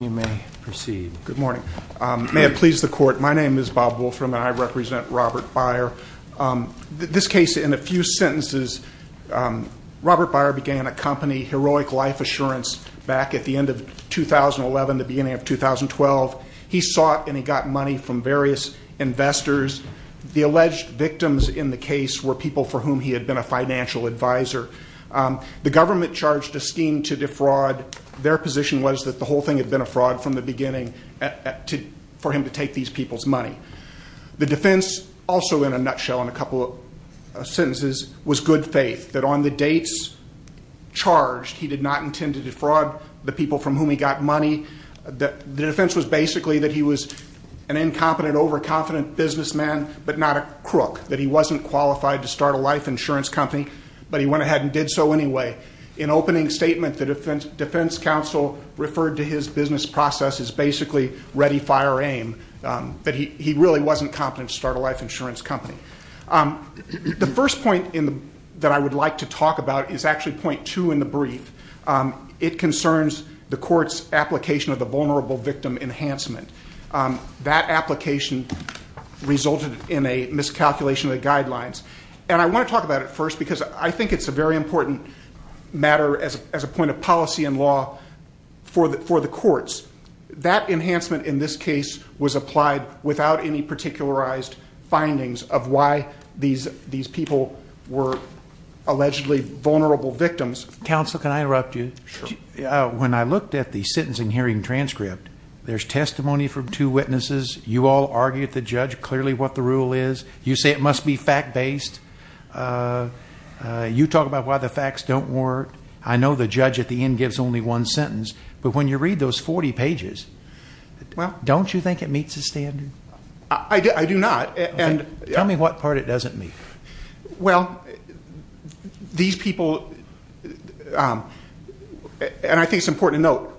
Good morning. May it please the Court, my name is Bob Wolfram and I represent Robert Beyer. This case, in a few sentences, Robert Beyer began a company, Heroic Life Assurance, back at the end of 2011, the beginning of 2012. He sought and he got money from various investors. The alleged victims in the case were people for whom he had been a financial advisor. The government charged a scheme to defraud. Their position was that the whole thing had been a fraud from the beginning for him to take these people's money. The defense, also in a nutshell, in a couple of sentences, was good faith. That on the dates charged, he did not intend to defraud the people from whom he got money. The defense was basically that he was an incompetent, overconfident businessman, but not a crook. That he wasn't qualified to start a life insurance company, but he went ahead and did so anyway. In opening statement, the defense counsel referred to his business process as basically ready, fire, aim. That he really wasn't competent to start a life insurance company. The first point that I would like to talk about is actually point two in the brief. It concerns the court's application of the vulnerable victim enhancement. That application resulted in a miscalculation of the guidelines. And I want to talk about it first because I think it's a very important matter as a point of policy and law for the courts. That enhancement in this case was applied without any particularized findings of why these people were allegedly vulnerable victims. Counsel, can I interrupt you? Sure. When I looked at the sentencing hearing transcript, there's testimony from two witnesses. You all argue with the judge clearly what the rule is. You say it must be fact-based. You talk about why the facts don't work. I know the judge at the end gives only one sentence. But when you read those 40 pages, don't you think it meets the standard? I do not. Tell me what part it doesn't meet. Well, these people, and I think it's important to note,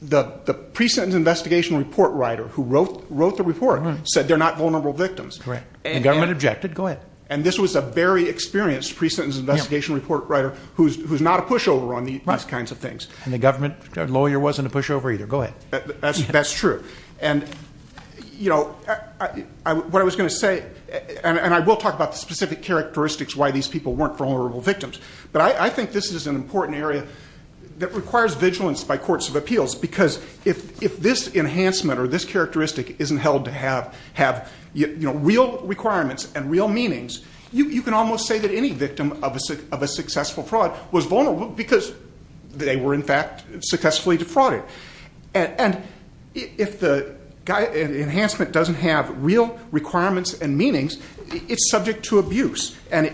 the pre-sentence investigation report writer who wrote the report said they're not vulnerable victims. Correct. The government objected. Go ahead. And this was a very experienced pre-sentence investigation report writer who's not a pushover on these kinds of things. And the government lawyer wasn't a pushover either. Go ahead. That's true. And, you know, what I was going to say, and I will talk about the specific characteristics why these people weren't vulnerable victims. But I think this is an important area that requires vigilance by courts of appeals because if this enhancement or this characteristic isn't held to have real requirements and real meanings, you can almost say that any victim of a successful fraud was vulnerable because they were, in fact, successfully defrauded. And if the enhancement doesn't have real requirements and meanings, it's subject to abuse. And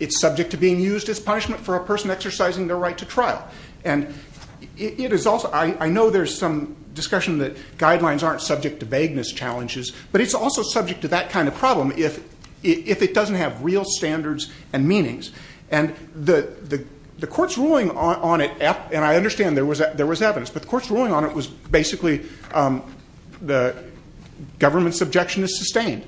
it's subject to being used as punishment for a person exercising their right to trial. And I know there's some discussion that guidelines aren't subject to vagueness challenges, but it's also subject to that kind of problem if it doesn't have real standards and meanings. And the court's ruling on it, and I understand there was evidence, but the court's ruling on it was basically the government's objection is sustained.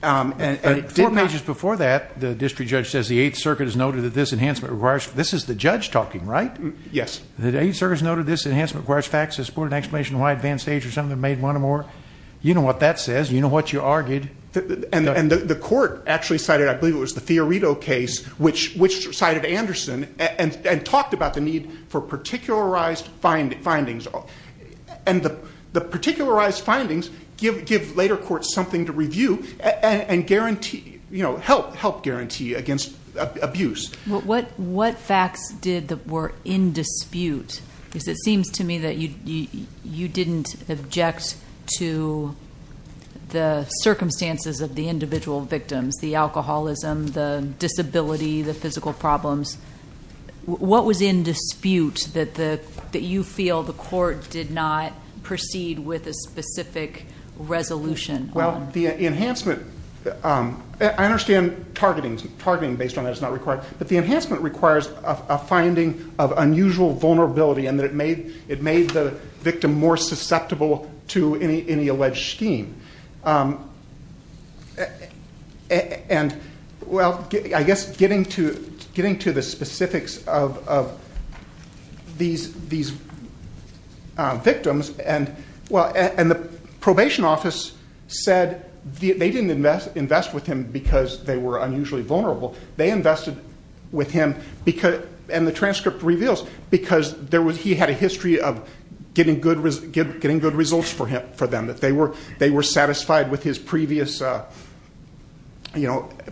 Four pages before that, the district judge says the Eighth Circuit has noted that this enhancement requires ‑‑ this is the judge talking, right? Yes. The Eighth Circuit has noted this enhancement requires facts that support an explanation of why advanced age or something made one or more. You know what that says. You know what you argued. And the court actually cited, I believe it was the Fiorito case, which cited Anderson and talked about the need for particularized findings. And the particularized findings give later courts something to review and help guarantee against abuse. What facts were in dispute? Because it seems to me that you didn't object to the circumstances of the individual victims, the alcoholism, the disability, the physical problems. What was in dispute that you feel the court did not proceed with a specific resolution? Well, the enhancement ‑‑ I understand targeting based on that is not required. But the enhancement requires a finding of unusual vulnerability and that it made the victim more susceptible to any alleged scheme. And, well, I guess getting to the specifics of these victims, and the probation office said they didn't invest with him because they were unusually vulnerable. They invested with him because ‑‑ and the transcript reveals, because he had a history of getting good results for them. They were satisfied with his previous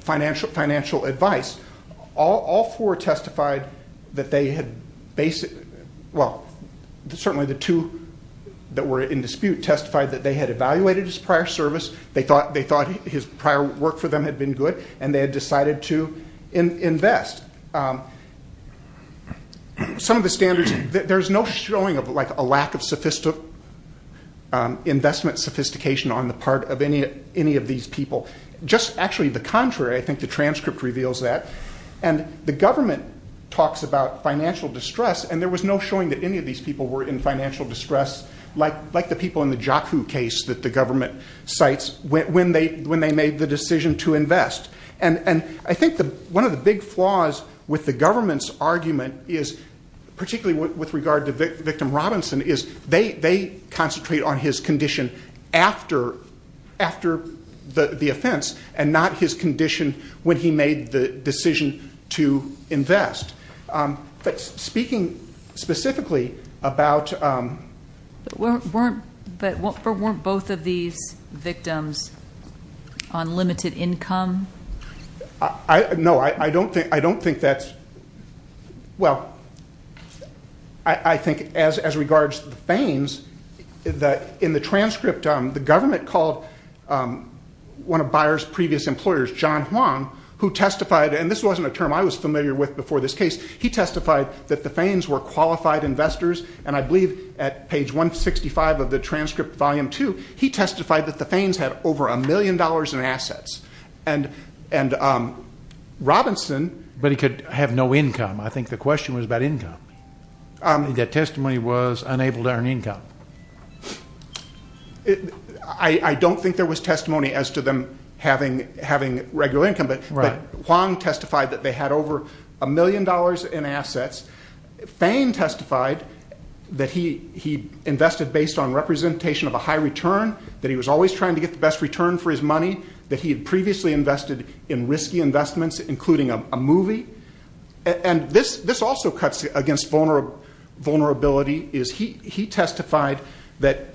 financial advice. All four testified that they had ‑‑ well, certainly the two that were in dispute testified that they had evaluated his prior service. They thought his prior work for them had been good. And they had decided to invest. Some of the standards ‑‑ there's no showing of a lack of investment sophistication on the part of any of these people. Just actually the contrary, I think the transcript reveals that. And the government talks about financial distress, and there was no showing that any of these people were in financial distress, like the people in the Jock Who case that the government cites, when they made the decision to invest. And I think one of the big flaws with the government's argument is, particularly with regard to victim Robinson, is they concentrate on his condition after the offense, and not his condition when he made the decision to invest. But speaking specifically about ‑‑ But weren't both of these victims on limited income? No, I don't think that's ‑‑ well, I think as regards to the feigns, in the transcript, the government called one of Bayer's previous employers, John Huang, who testified, and this wasn't a term I was familiar with before this case, he testified that the feigns were qualified investors, and I believe at page 165 of the transcript, volume 2, he testified that the feigns had over a million dollars in assets. And Robinson ‑‑ But he could have no income. I think the question was about income. The testimony was unable to earn income. I don't think there was testimony as to them having regular income, but Huang testified that they had over a million dollars in assets. Feign testified that he invested based on representation of a high return, that he was always trying to get the best return for his money, that he had previously invested in risky investments, including a movie. And this also cuts against vulnerability. He testified that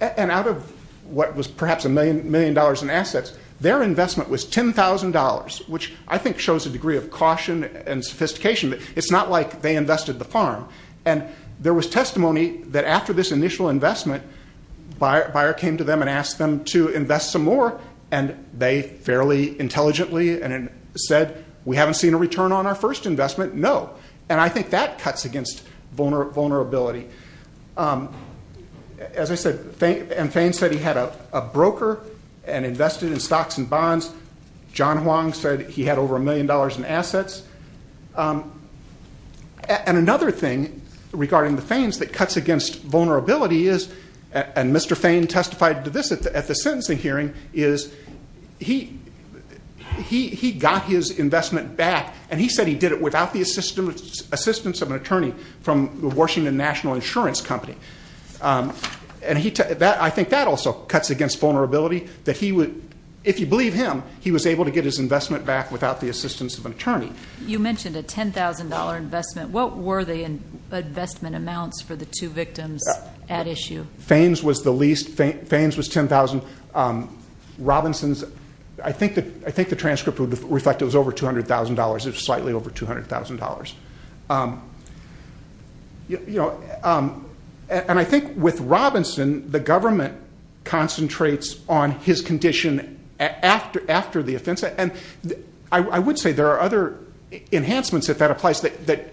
‑‑ and out of what was perhaps a million dollars in assets, their investment was $10,000, which I think shows a degree of caution and sophistication. It's not like they invested the farm. And there was testimony that after this initial investment, Bayer came to them and asked them to invest some more, and they fairly intelligently said we haven't seen a return on our first investment, no. And I think that cuts against vulnerability. As I said, Feign said he had a broker and invested in stocks and bonds. John Huang said he had over a million dollars in assets. And another thing regarding the feigns that cuts against vulnerability is, and Mr. Feign testified to this at the sentencing hearing, is he got his investment back, and he said he did it without the assistance of an attorney from the Washington National Insurance Company. And I think that also cuts against vulnerability, that if you believe him, he was able to get his investment back without the assistance of an attorney. You mentioned a $10,000 investment. What were the investment amounts for the two victims at issue? Feign's was the least. Feign's was $10,000. Robinson's, I think the transcript would reflect it was over $200,000. It was slightly over $200,000. And I think with Robinson, the government concentrates on his condition after the offense. And I would say there are other enhancements, if that applies, that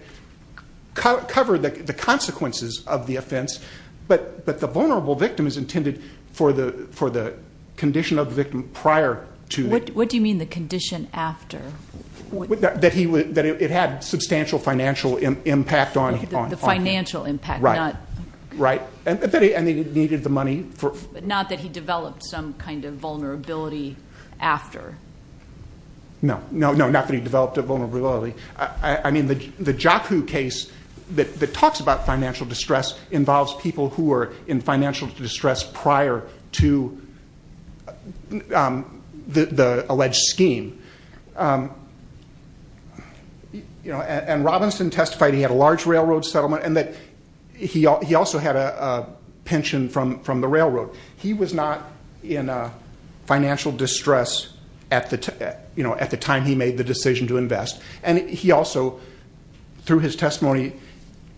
cover the consequences of the offense, but the vulnerable victim is intended for the condition of the victim prior to it. What do you mean the condition after? That it had substantial financial impact on him. The financial impact. Right. And that he needed the money. Not that he developed some kind of vulnerability after. No, not that he developed a vulnerability. I mean, the Jokhu case that talks about financial distress involves people who were in financial distress prior to the alleged scheme. And Robinson testified he had a large railroad settlement and that he also had a pension from the railroad. He was not in financial distress at the time he made the decision to invest. And he also, through his testimony,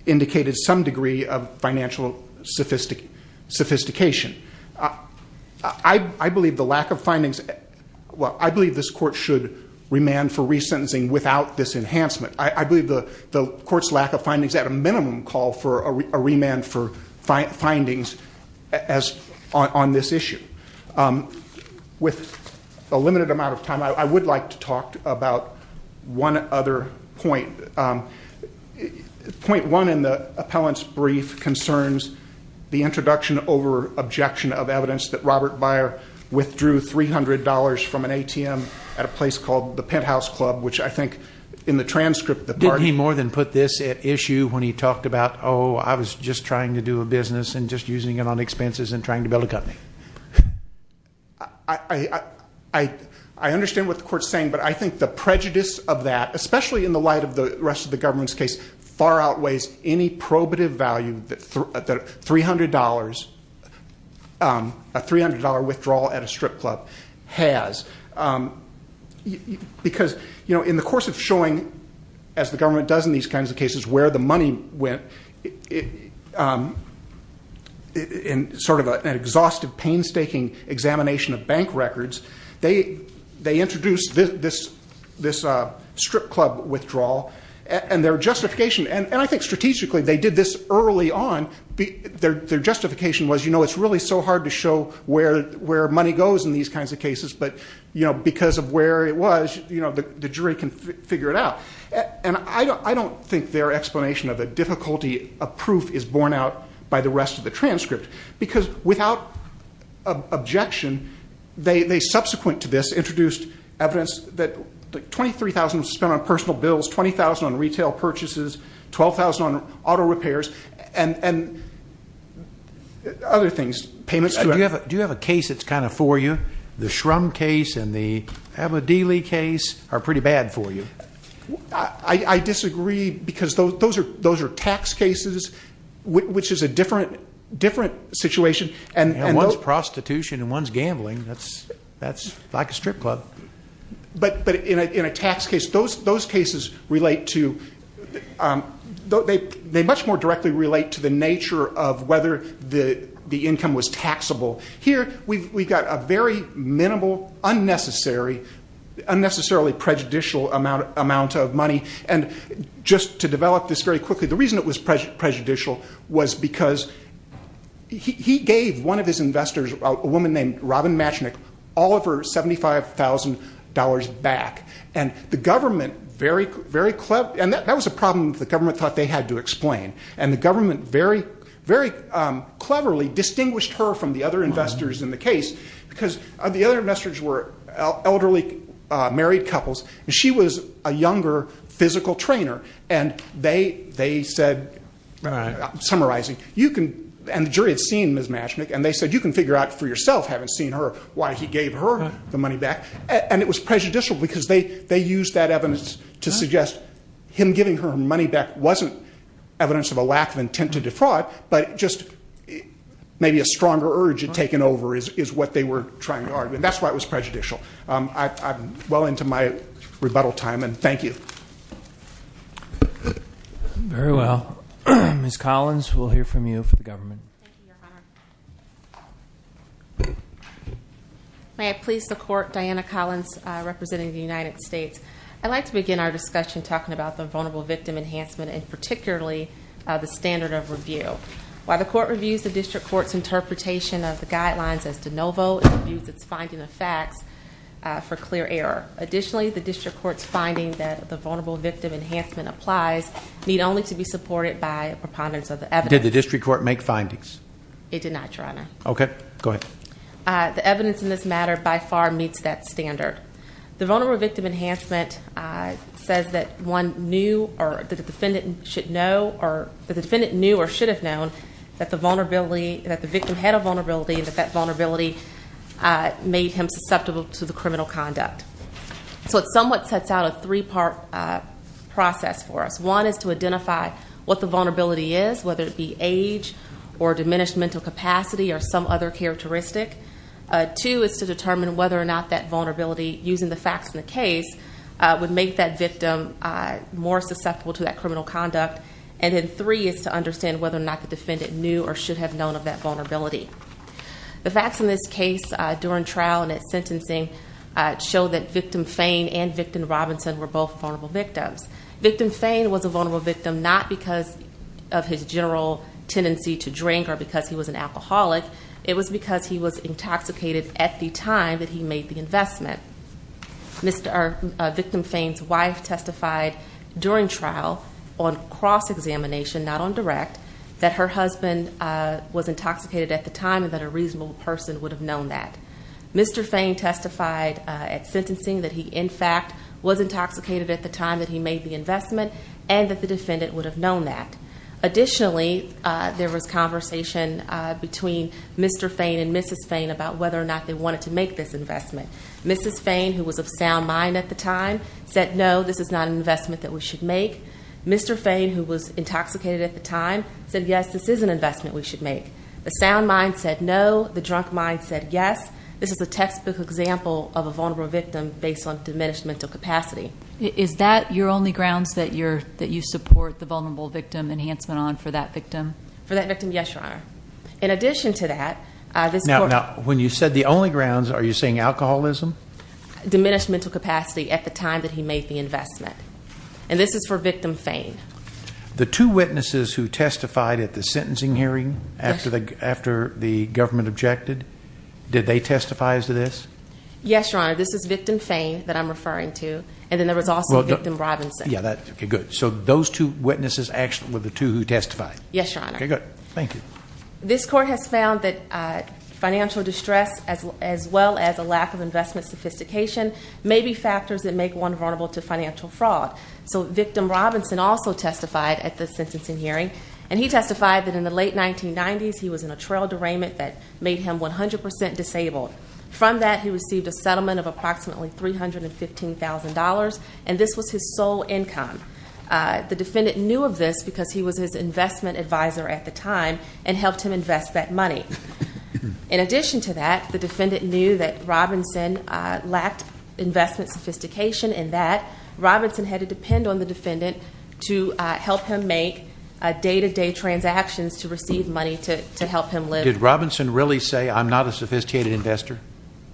indicated some degree of financial sophistication. I believe this court should remand for resentencing without this enhancement. I believe the court's lack of findings at a minimum call for a remand for findings on this issue. With a limited amount of time, I would like to talk about one other point. Point one in the appellant's brief concerns the introduction over objection of evidence that Robert Beyer withdrew $300 from an ATM at a place called the Penthouse Club, which I think in the transcript the party- Did he more than put this at issue when he talked about, oh, I was just trying to do a business and just using it on expenses and trying to build a company? I understand what the court's saying, but I think the prejudice of that, especially in the light of the rest of the government's case, far outweighs any probative value that $300, a $300 withdrawal at a strip club has. Because in the course of showing, as the government does in these kinds of cases, where the money went in sort of an exhaustive, painstaking examination of bank records, they introduced this strip club withdrawal. And their justification, and I think strategically they did this early on, their justification was, you know, it's really so hard to show where money goes in these kinds of cases, but because of where it was, the jury can figure it out. And I don't think their explanation of the difficulty of proof is borne out by the rest of the transcript. Because without objection, they subsequent to this introduced evidence that $23,000 was spent on personal bills, $20,000 on retail purchases, $12,000 on auto repairs, and other things, payments to- Do you have a case that's kind of for you? The Shrum case and the Abedeli case are pretty bad for you. I disagree because those are tax cases, which is a different situation. And one's prostitution and one's gambling. That's like a strip club. But in a tax case, those cases relate to- Here, we've got a very minimal, unnecessary, unnecessarily prejudicial amount of money. And just to develop this very quickly, the reason it was prejudicial was because he gave one of his investors, a woman named Robin Matchnick, all of her $75,000 back. And the government very cleverly- And that was a problem the government thought they had to explain. And the government very cleverly distinguished her from the other investors in the case because the other investors were elderly married couples. And she was a younger physical trainer. And they said, summarizing, you can- And the jury had seen Ms. Matchnick. And they said, you can figure out for yourself, having seen her, why he gave her the money back. And it was prejudicial because they used that evidence to suggest him giving her money back wasn't evidence of a lack of intent to defraud, but just maybe a stronger urge had taken over is what they were trying to argue. And that's why it was prejudicial. I'm well into my rebuttal time, and thank you. Very well. Ms. Collins, we'll hear from you for the government. Thank you, Your Honor. May I please support Diana Collins representing the United States? I'd like to begin our discussion talking about the vulnerable victim enhancement and particularly the standard of review. While the court reviews the district court's interpretation of the guidelines as de novo, it reviews its finding of facts for clear error. Additionally, the district court's finding that the vulnerable victim enhancement applies need only to be supported by a preponderance of the evidence. Did the district court make findings? It did not, Your Honor. Okay. Go ahead. The evidence in this matter by far meets that standard. The vulnerable victim enhancement says that the defendant knew or should have known that the victim had a vulnerability and that that vulnerability made him susceptible to the criminal conduct. So it somewhat sets out a three-part process for us. One is to identify what the vulnerability is, whether it be age or diminished mental capacity or some other characteristic. Two is to determine whether or not that vulnerability, using the facts in the case, would make that victim more susceptible to that criminal conduct. And then three is to understand whether or not the defendant knew or should have known of that vulnerability. The facts in this case during trial and at sentencing show that victim Fain and victim Robinson were both vulnerable victims. Victim Fain was a vulnerable victim not because of his general tendency to drink or because he was an alcoholic. It was because he was intoxicated at the time that he made the investment. Victim Fain's wife testified during trial on cross-examination, not on direct, that her husband was intoxicated at the time and that a reasonable person would have known that. Mr. Fain testified at sentencing that he, in fact, was intoxicated at the time that he made the investment and that the defendant would have known that. Additionally, there was conversation between Mr. Fain and Mrs. Fain about whether or not they wanted to make this investment. Mrs. Fain, who was of sound mind at the time, said, No, this is not an investment that we should make. Mr. Fain, who was intoxicated at the time, said, Yes, this is an investment we should make. The sound mind said, No. The drunk mind said, Yes. This is a textbook example of a vulnerable victim based on diminished mental capacity. Is that your only grounds that you support the vulnerable victim enhancement on for that victim? For that victim, yes, Your Honor. In addition to that, this court Now, when you said the only grounds, are you saying alcoholism? diminished mental capacity at the time that he made the investment. And this is for victim Fain. The two witnesses who testified at the sentencing hearing after the government objected, did they testify as to this? Yes, Your Honor. This is victim Fain that I'm referring to. And then there was also victim Robinson. Okay, good. So those two witnesses actually were the two who testified. Yes, Your Honor. Okay, good. Thank you. This court has found that financial distress as well as a lack of investment sophistication may be factors that make one vulnerable to financial fraud. So victim Robinson also testified at the sentencing hearing. And he testified that in the late 1990s he was in a trail derailment that made him 100% disabled. From that, he received a settlement of approximately $315,000. And this was his sole income. The defendant knew of this because he was his investment advisor at the time and helped him invest that money. In addition to that, the defendant knew that Robinson lacked investment sophistication and that Robinson had to depend on the defendant to help him make day-to-day transactions to receive money to help him live. Did Robinson really say, I'm not a sophisticated investor?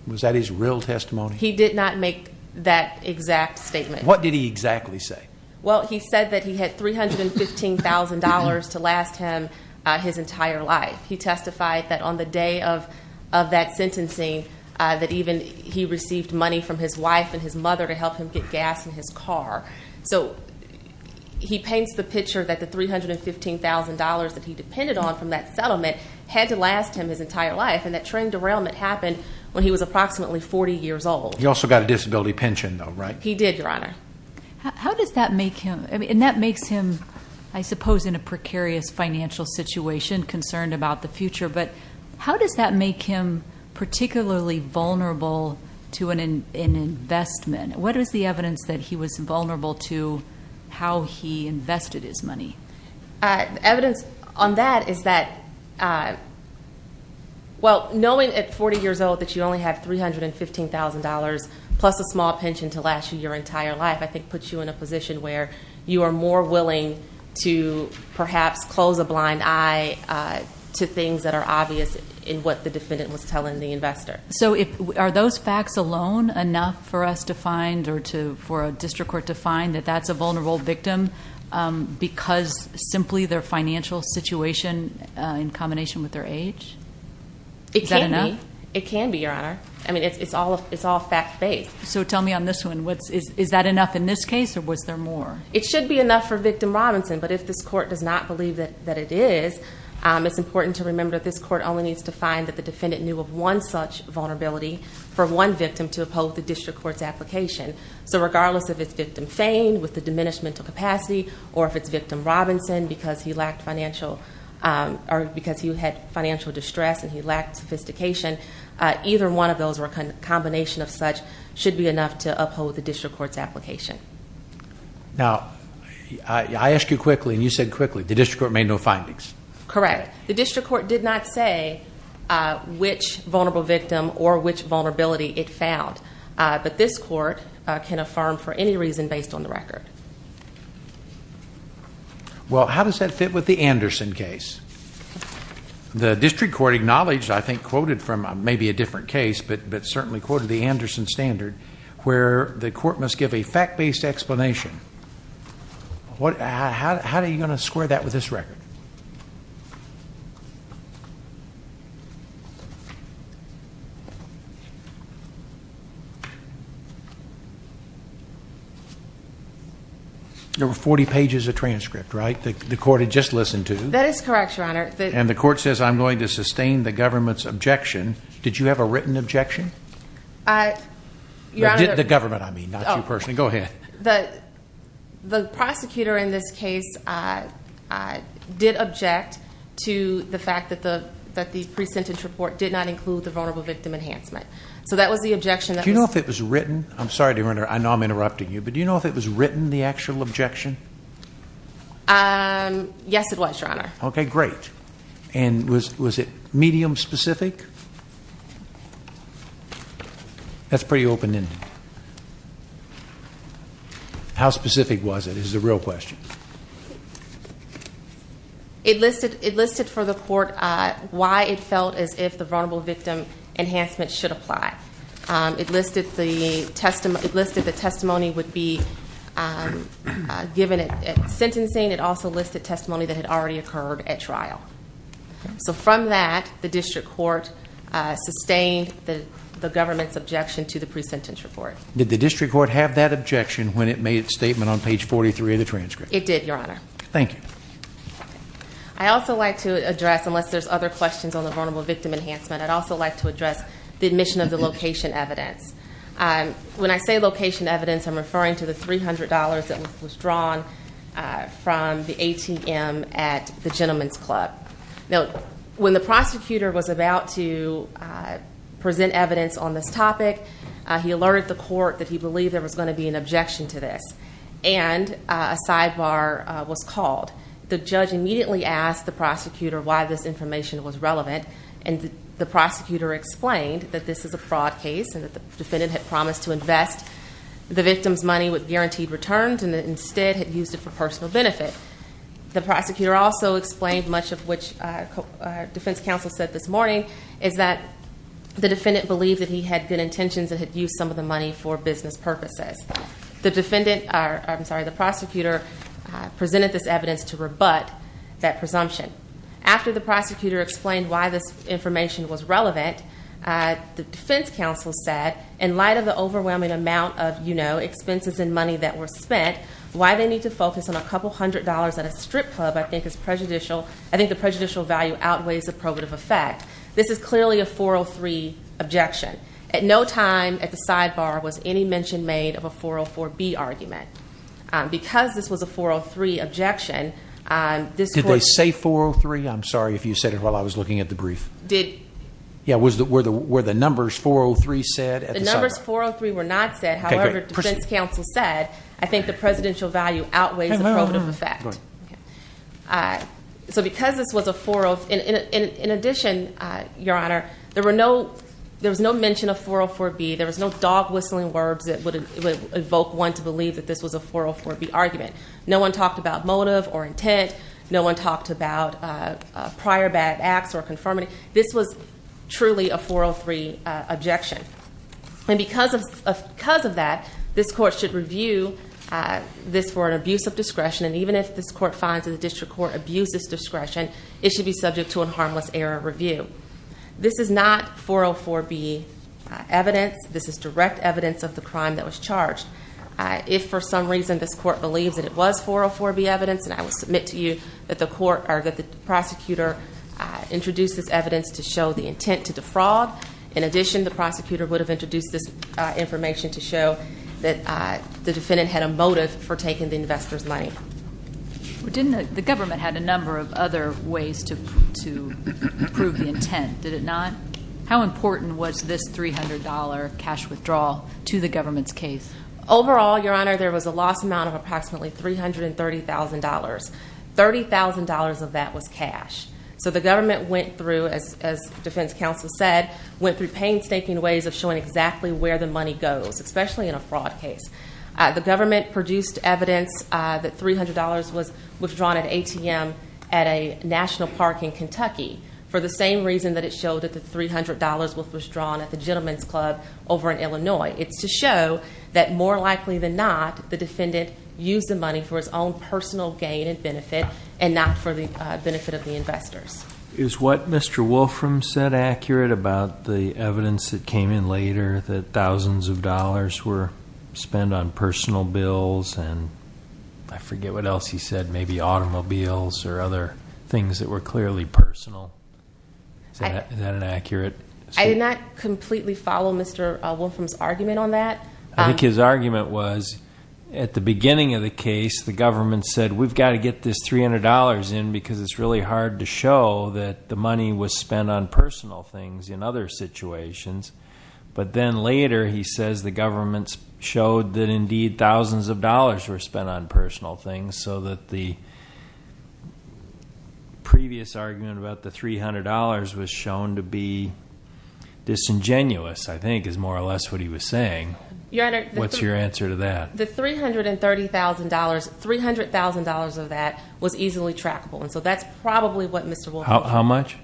Was that his real testimony? He did not make that exact statement. What did he exactly say? Well, he said that he had $315,000 to last him his entire life. He testified that on the day of that sentencing, that even he received money from his wife and his mother to help him get gas in his car. So he paints the picture that the $315,000 that he depended on from that settlement had to last him his entire life. And that trail derailment happened when he was approximately 40 years old. He also got a disability pension, though, right? He did, Your Honor. How does that make him? And that makes him, I suppose, in a precarious financial situation, concerned about the future. But how does that make him particularly vulnerable to an investment? What is the evidence that he was vulnerable to how he invested his money? Evidence on that is that, well, knowing at 40 years old that you only have $315,000 plus a small pension to last you your entire life, I think puts you in a position where you are more willing to perhaps close a blind eye to things that are obvious in what the defendant was telling the investor. So are those facts alone enough for us to find or for a district court to find that that's a vulnerable victim because simply their financial situation in combination with their age? Is that enough? It can be, Your Honor. I mean, it's all fact-based. So tell me on this one, is that enough in this case or was there more? It should be enough for Victim Robinson. But if this court does not believe that it is, it's important to remember that this court only needs to find that the defendant knew of one such vulnerability for one victim to uphold the district court's application. So regardless if it's Victim Fane with a diminished mental capacity or if it's Victim Robinson because he had financial distress and he lacked sophistication, either one of those or a combination of such should be enough to uphold the district court's application. Now, I asked you quickly and you said quickly. The district court made no findings. Correct. The district court did not say which vulnerable victim or which vulnerability it found. But this court can affirm for any reason based on the record. Well, how does that fit with the Anderson case? The district court acknowledged, I think quoted from maybe a different case, but certainly quoted the Anderson standard, where the court must give a fact-based explanation. How are you going to square that with this record? There were 40 pages of transcript, right? The court had just listened to. That is correct, Your Honor. And the court says, I'm going to sustain the government's objection. Did you have a written objection? The government, I mean, not you personally. Go ahead. The prosecutor in this case did object to the fact that the pre-sentence report did not include the vulnerable victim enhancement. So that was the objection. Do you know if it was written? I'm sorry, Your Honor, I know I'm interrupting you, but do you know if it was written, the actual objection? Yes, it was, Your Honor. Okay, great. And was it medium-specific? That's pretty open-ended. How specific was it is the real question. It listed for the court why it felt as if the vulnerable victim enhancement should apply. It listed the testimony would be given at sentencing. It also listed testimony that had already occurred at trial. So from that, the district court sustained the government's objection to the pre-sentence report. Did the district court have that objection when it made its statement on page 43 of the transcript? It did, Your Honor. Thank you. I'd also like to address, unless there's other questions on the vulnerable victim enhancement, I'd also like to address the admission of the location evidence. When I say location evidence, I'm referring to the $300 that was drawn from the ATM at the Gentleman's Club. Now, when the prosecutor was about to present evidence on this topic, he alerted the court that he believed there was going to be an objection to this. And a sidebar was called. The judge immediately asked the prosecutor why this information was relevant, and the prosecutor explained that this is a fraud case, and that the defendant had promised to invest the victim's money with guaranteed returns and instead had used it for personal benefit. The prosecutor also explained much of which our defense counsel said this morning, is that the defendant believed that he had good intentions and had used some of the money for business purposes. The prosecutor presented this evidence to rebut that presumption. After the prosecutor explained why this information was relevant, the defense counsel said, in light of the overwhelming amount of expenses and money that were spent, why they need to focus on a couple hundred dollars at a strip club I think is prejudicial. I think the prejudicial value outweighs the probative effect. This is clearly a 403 objection. At no time at the sidebar was any mention made of a 404B argument. Because this was a 403 objection, this court- Did they say 403? I'm sorry if you said it while I was looking at the brief. Did- Yeah, were the numbers 403 said at the sidebar? The numbers 403 were not said. However, defense counsel said, I think the presidential value outweighs the probative effect. So because this was a 403- In addition, Your Honor, there was no mention of 404B. There was no dog-whistling words that would evoke one to believe that this was a 404B argument. No one talked about motive or intent. No one talked about prior bad acts or conformity. This was truly a 403 objection. And because of that, this court should review this for an abuse of discretion. And even if this court finds that the district court abused its discretion, it should be subject to a harmless error review. This is not 404B evidence. This is direct evidence of the crime that was charged. If for some reason this court believes that it was 404B evidence, and I would submit to you that the court- Or that the prosecutor introduced this evidence to show the intent to defraud. In addition, the prosecutor would have introduced this information to show that the defendant had a motive for taking the investor's money. The government had a number of other ways to prove the intent, did it not? How important was this $300 cash withdrawal to the government's case? Overall, Your Honor, there was a loss amount of approximately $330,000. $30,000 of that was cash. So the government went through, as defense counsel said, went through painstaking ways of showing exactly where the money goes, especially in a fraud case. The government produced evidence that $300 was withdrawn at ATM at a national park in Kentucky, for the same reason that it showed that the $300 was withdrawn at the Gentleman's Club over in Illinois. It's to show that more likely than not, the defendant used the money for his own personal gain and benefit, and not for the benefit of the investors. Is what Mr. Wolfram said accurate about the evidence that came in later that thousands of dollars were spent on personal bills, and I forget what else he said, maybe automobiles or other things that were clearly personal? Is that an accurate statement? I did not completely follow Mr. Wolfram's argument on that. He put $300 in because it's really hard to show that the money was spent on personal things in other situations, but then later he says the government showed that indeed thousands of dollars were spent on personal things, so that the previous argument about the $300 was shown to be disingenuous, I think, is more or less what he was saying. What's your answer to that? The $300 was easily trackable, and so that's probably what Mr. Wolfram is referring to. How much?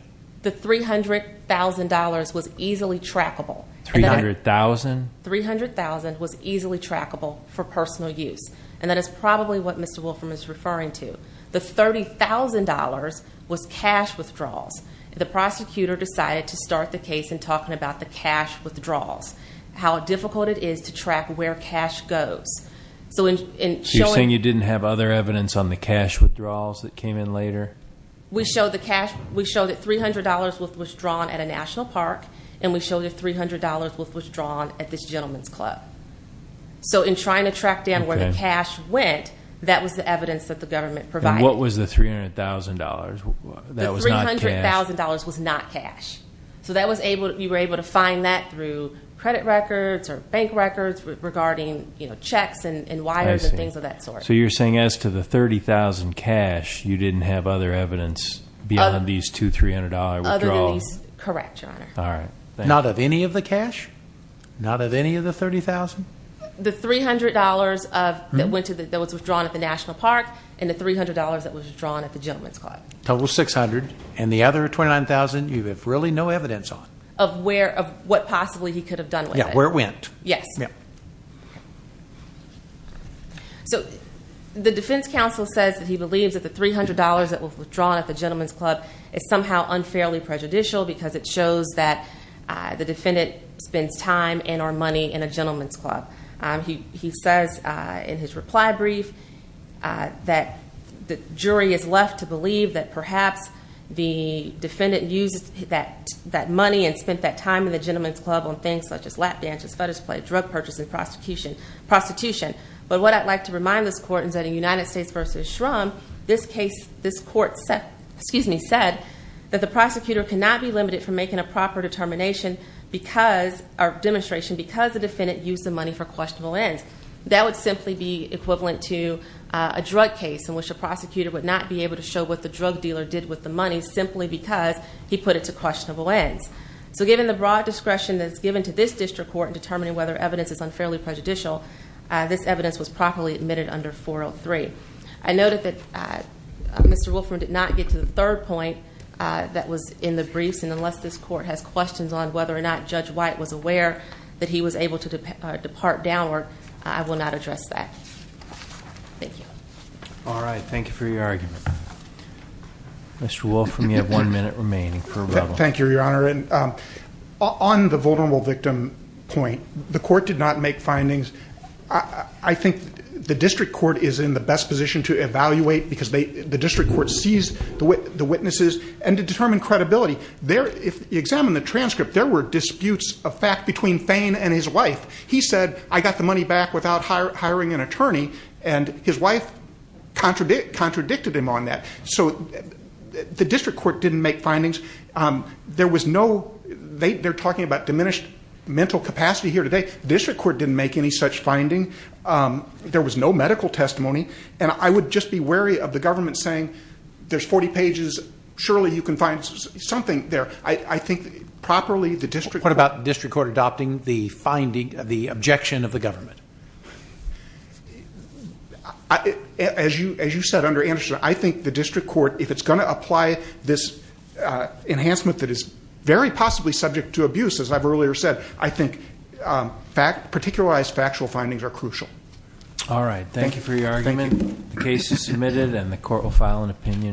The $300,000 was easily trackable. $300,000? $300,000 was easily trackable for personal use, and that is probably what Mr. Wolfram is referring to. The $30,000 was cash withdrawals. The prosecutor decided to start the case in talking about the cash withdrawals, how difficult it is to track where cash goes. You're saying you didn't have other evidence on the cash withdrawals that came in later? We showed that $300 was withdrawn at a national park, and we showed that $300 was withdrawn at this gentleman's club. So in trying to track down where the cash went, that was the evidence that the government provided. And what was the $300,000? The $300,000 was not cash, so we were able to find that through credit records or bank records regarding checks and wires and things of that sort. So you're saying as to the $30,000 cash, you didn't have other evidence beyond these two $300 withdrawals? Correct, Your Honor. Not of any of the cash? Not of any of the $30,000? The $300 that was withdrawn at the national park, and the $300 that was withdrawn at the gentleman's club. Total of $600, and the other $29,000 you have really no evidence on? Yeah, where it went. So the defense counsel says that he believes that the $300 that was withdrawn at the gentleman's club is somehow unfairly prejudicial, because it shows that the defendant spends time and or money in a gentleman's club. He says in his reply brief that the jury is left to believe that perhaps the defendant used that money and spent that time in the gentleman's club on things such as laptops. Bandages, fetish play, drug purchases, prostitution. But what I'd like to remind this court is that in United States v. Shrum, this court said that the prosecutor cannot be limited from making a proper determination or demonstration because the defendant used the money for questionable ends. That would simply be equivalent to a drug case in which a prosecutor would not be able to show what the drug dealer did with the money simply because he put it to questionable ends. So given the broad discretion that's given to this district court in determining whether evidence is unfairly prejudicial, this evidence was properly admitted under 403. I noted that Mr. Wolfram did not get to the third point that was in the briefs, and unless this court has questions on whether or not Judge White was aware that he was able to depart downward, I will not address that. Thank you. All right. Thank you for your argument. Mr. Wolfram, you have one minute remaining for rebuttal. Thank you, Your Honor. On the vulnerable victim point, the court did not make findings. I think the district court is in the best position to evaluate because the district court sees the witnesses and to determine credibility. If you examine the transcript, there were disputes of fact between Fain and his wife. He said, I got the money back without hiring an attorney, and his wife contradicted him on that. So the district court didn't make findings. They're talking about diminished mental capacity here today. The district court didn't make any such finding. There was no medical testimony. And I would just be wary of the government saying, there's 40 pages. Surely you can find something there. What about the district court adopting the objection of the government? As you said, under Anderson, I think the district court, if it's going to apply this enhancement that is very possibly subject to abuse, as I've earlier said, I think particularized factual findings are crucial. All right. Thank you for your argument. The case is submitted, and the court will file an opinion.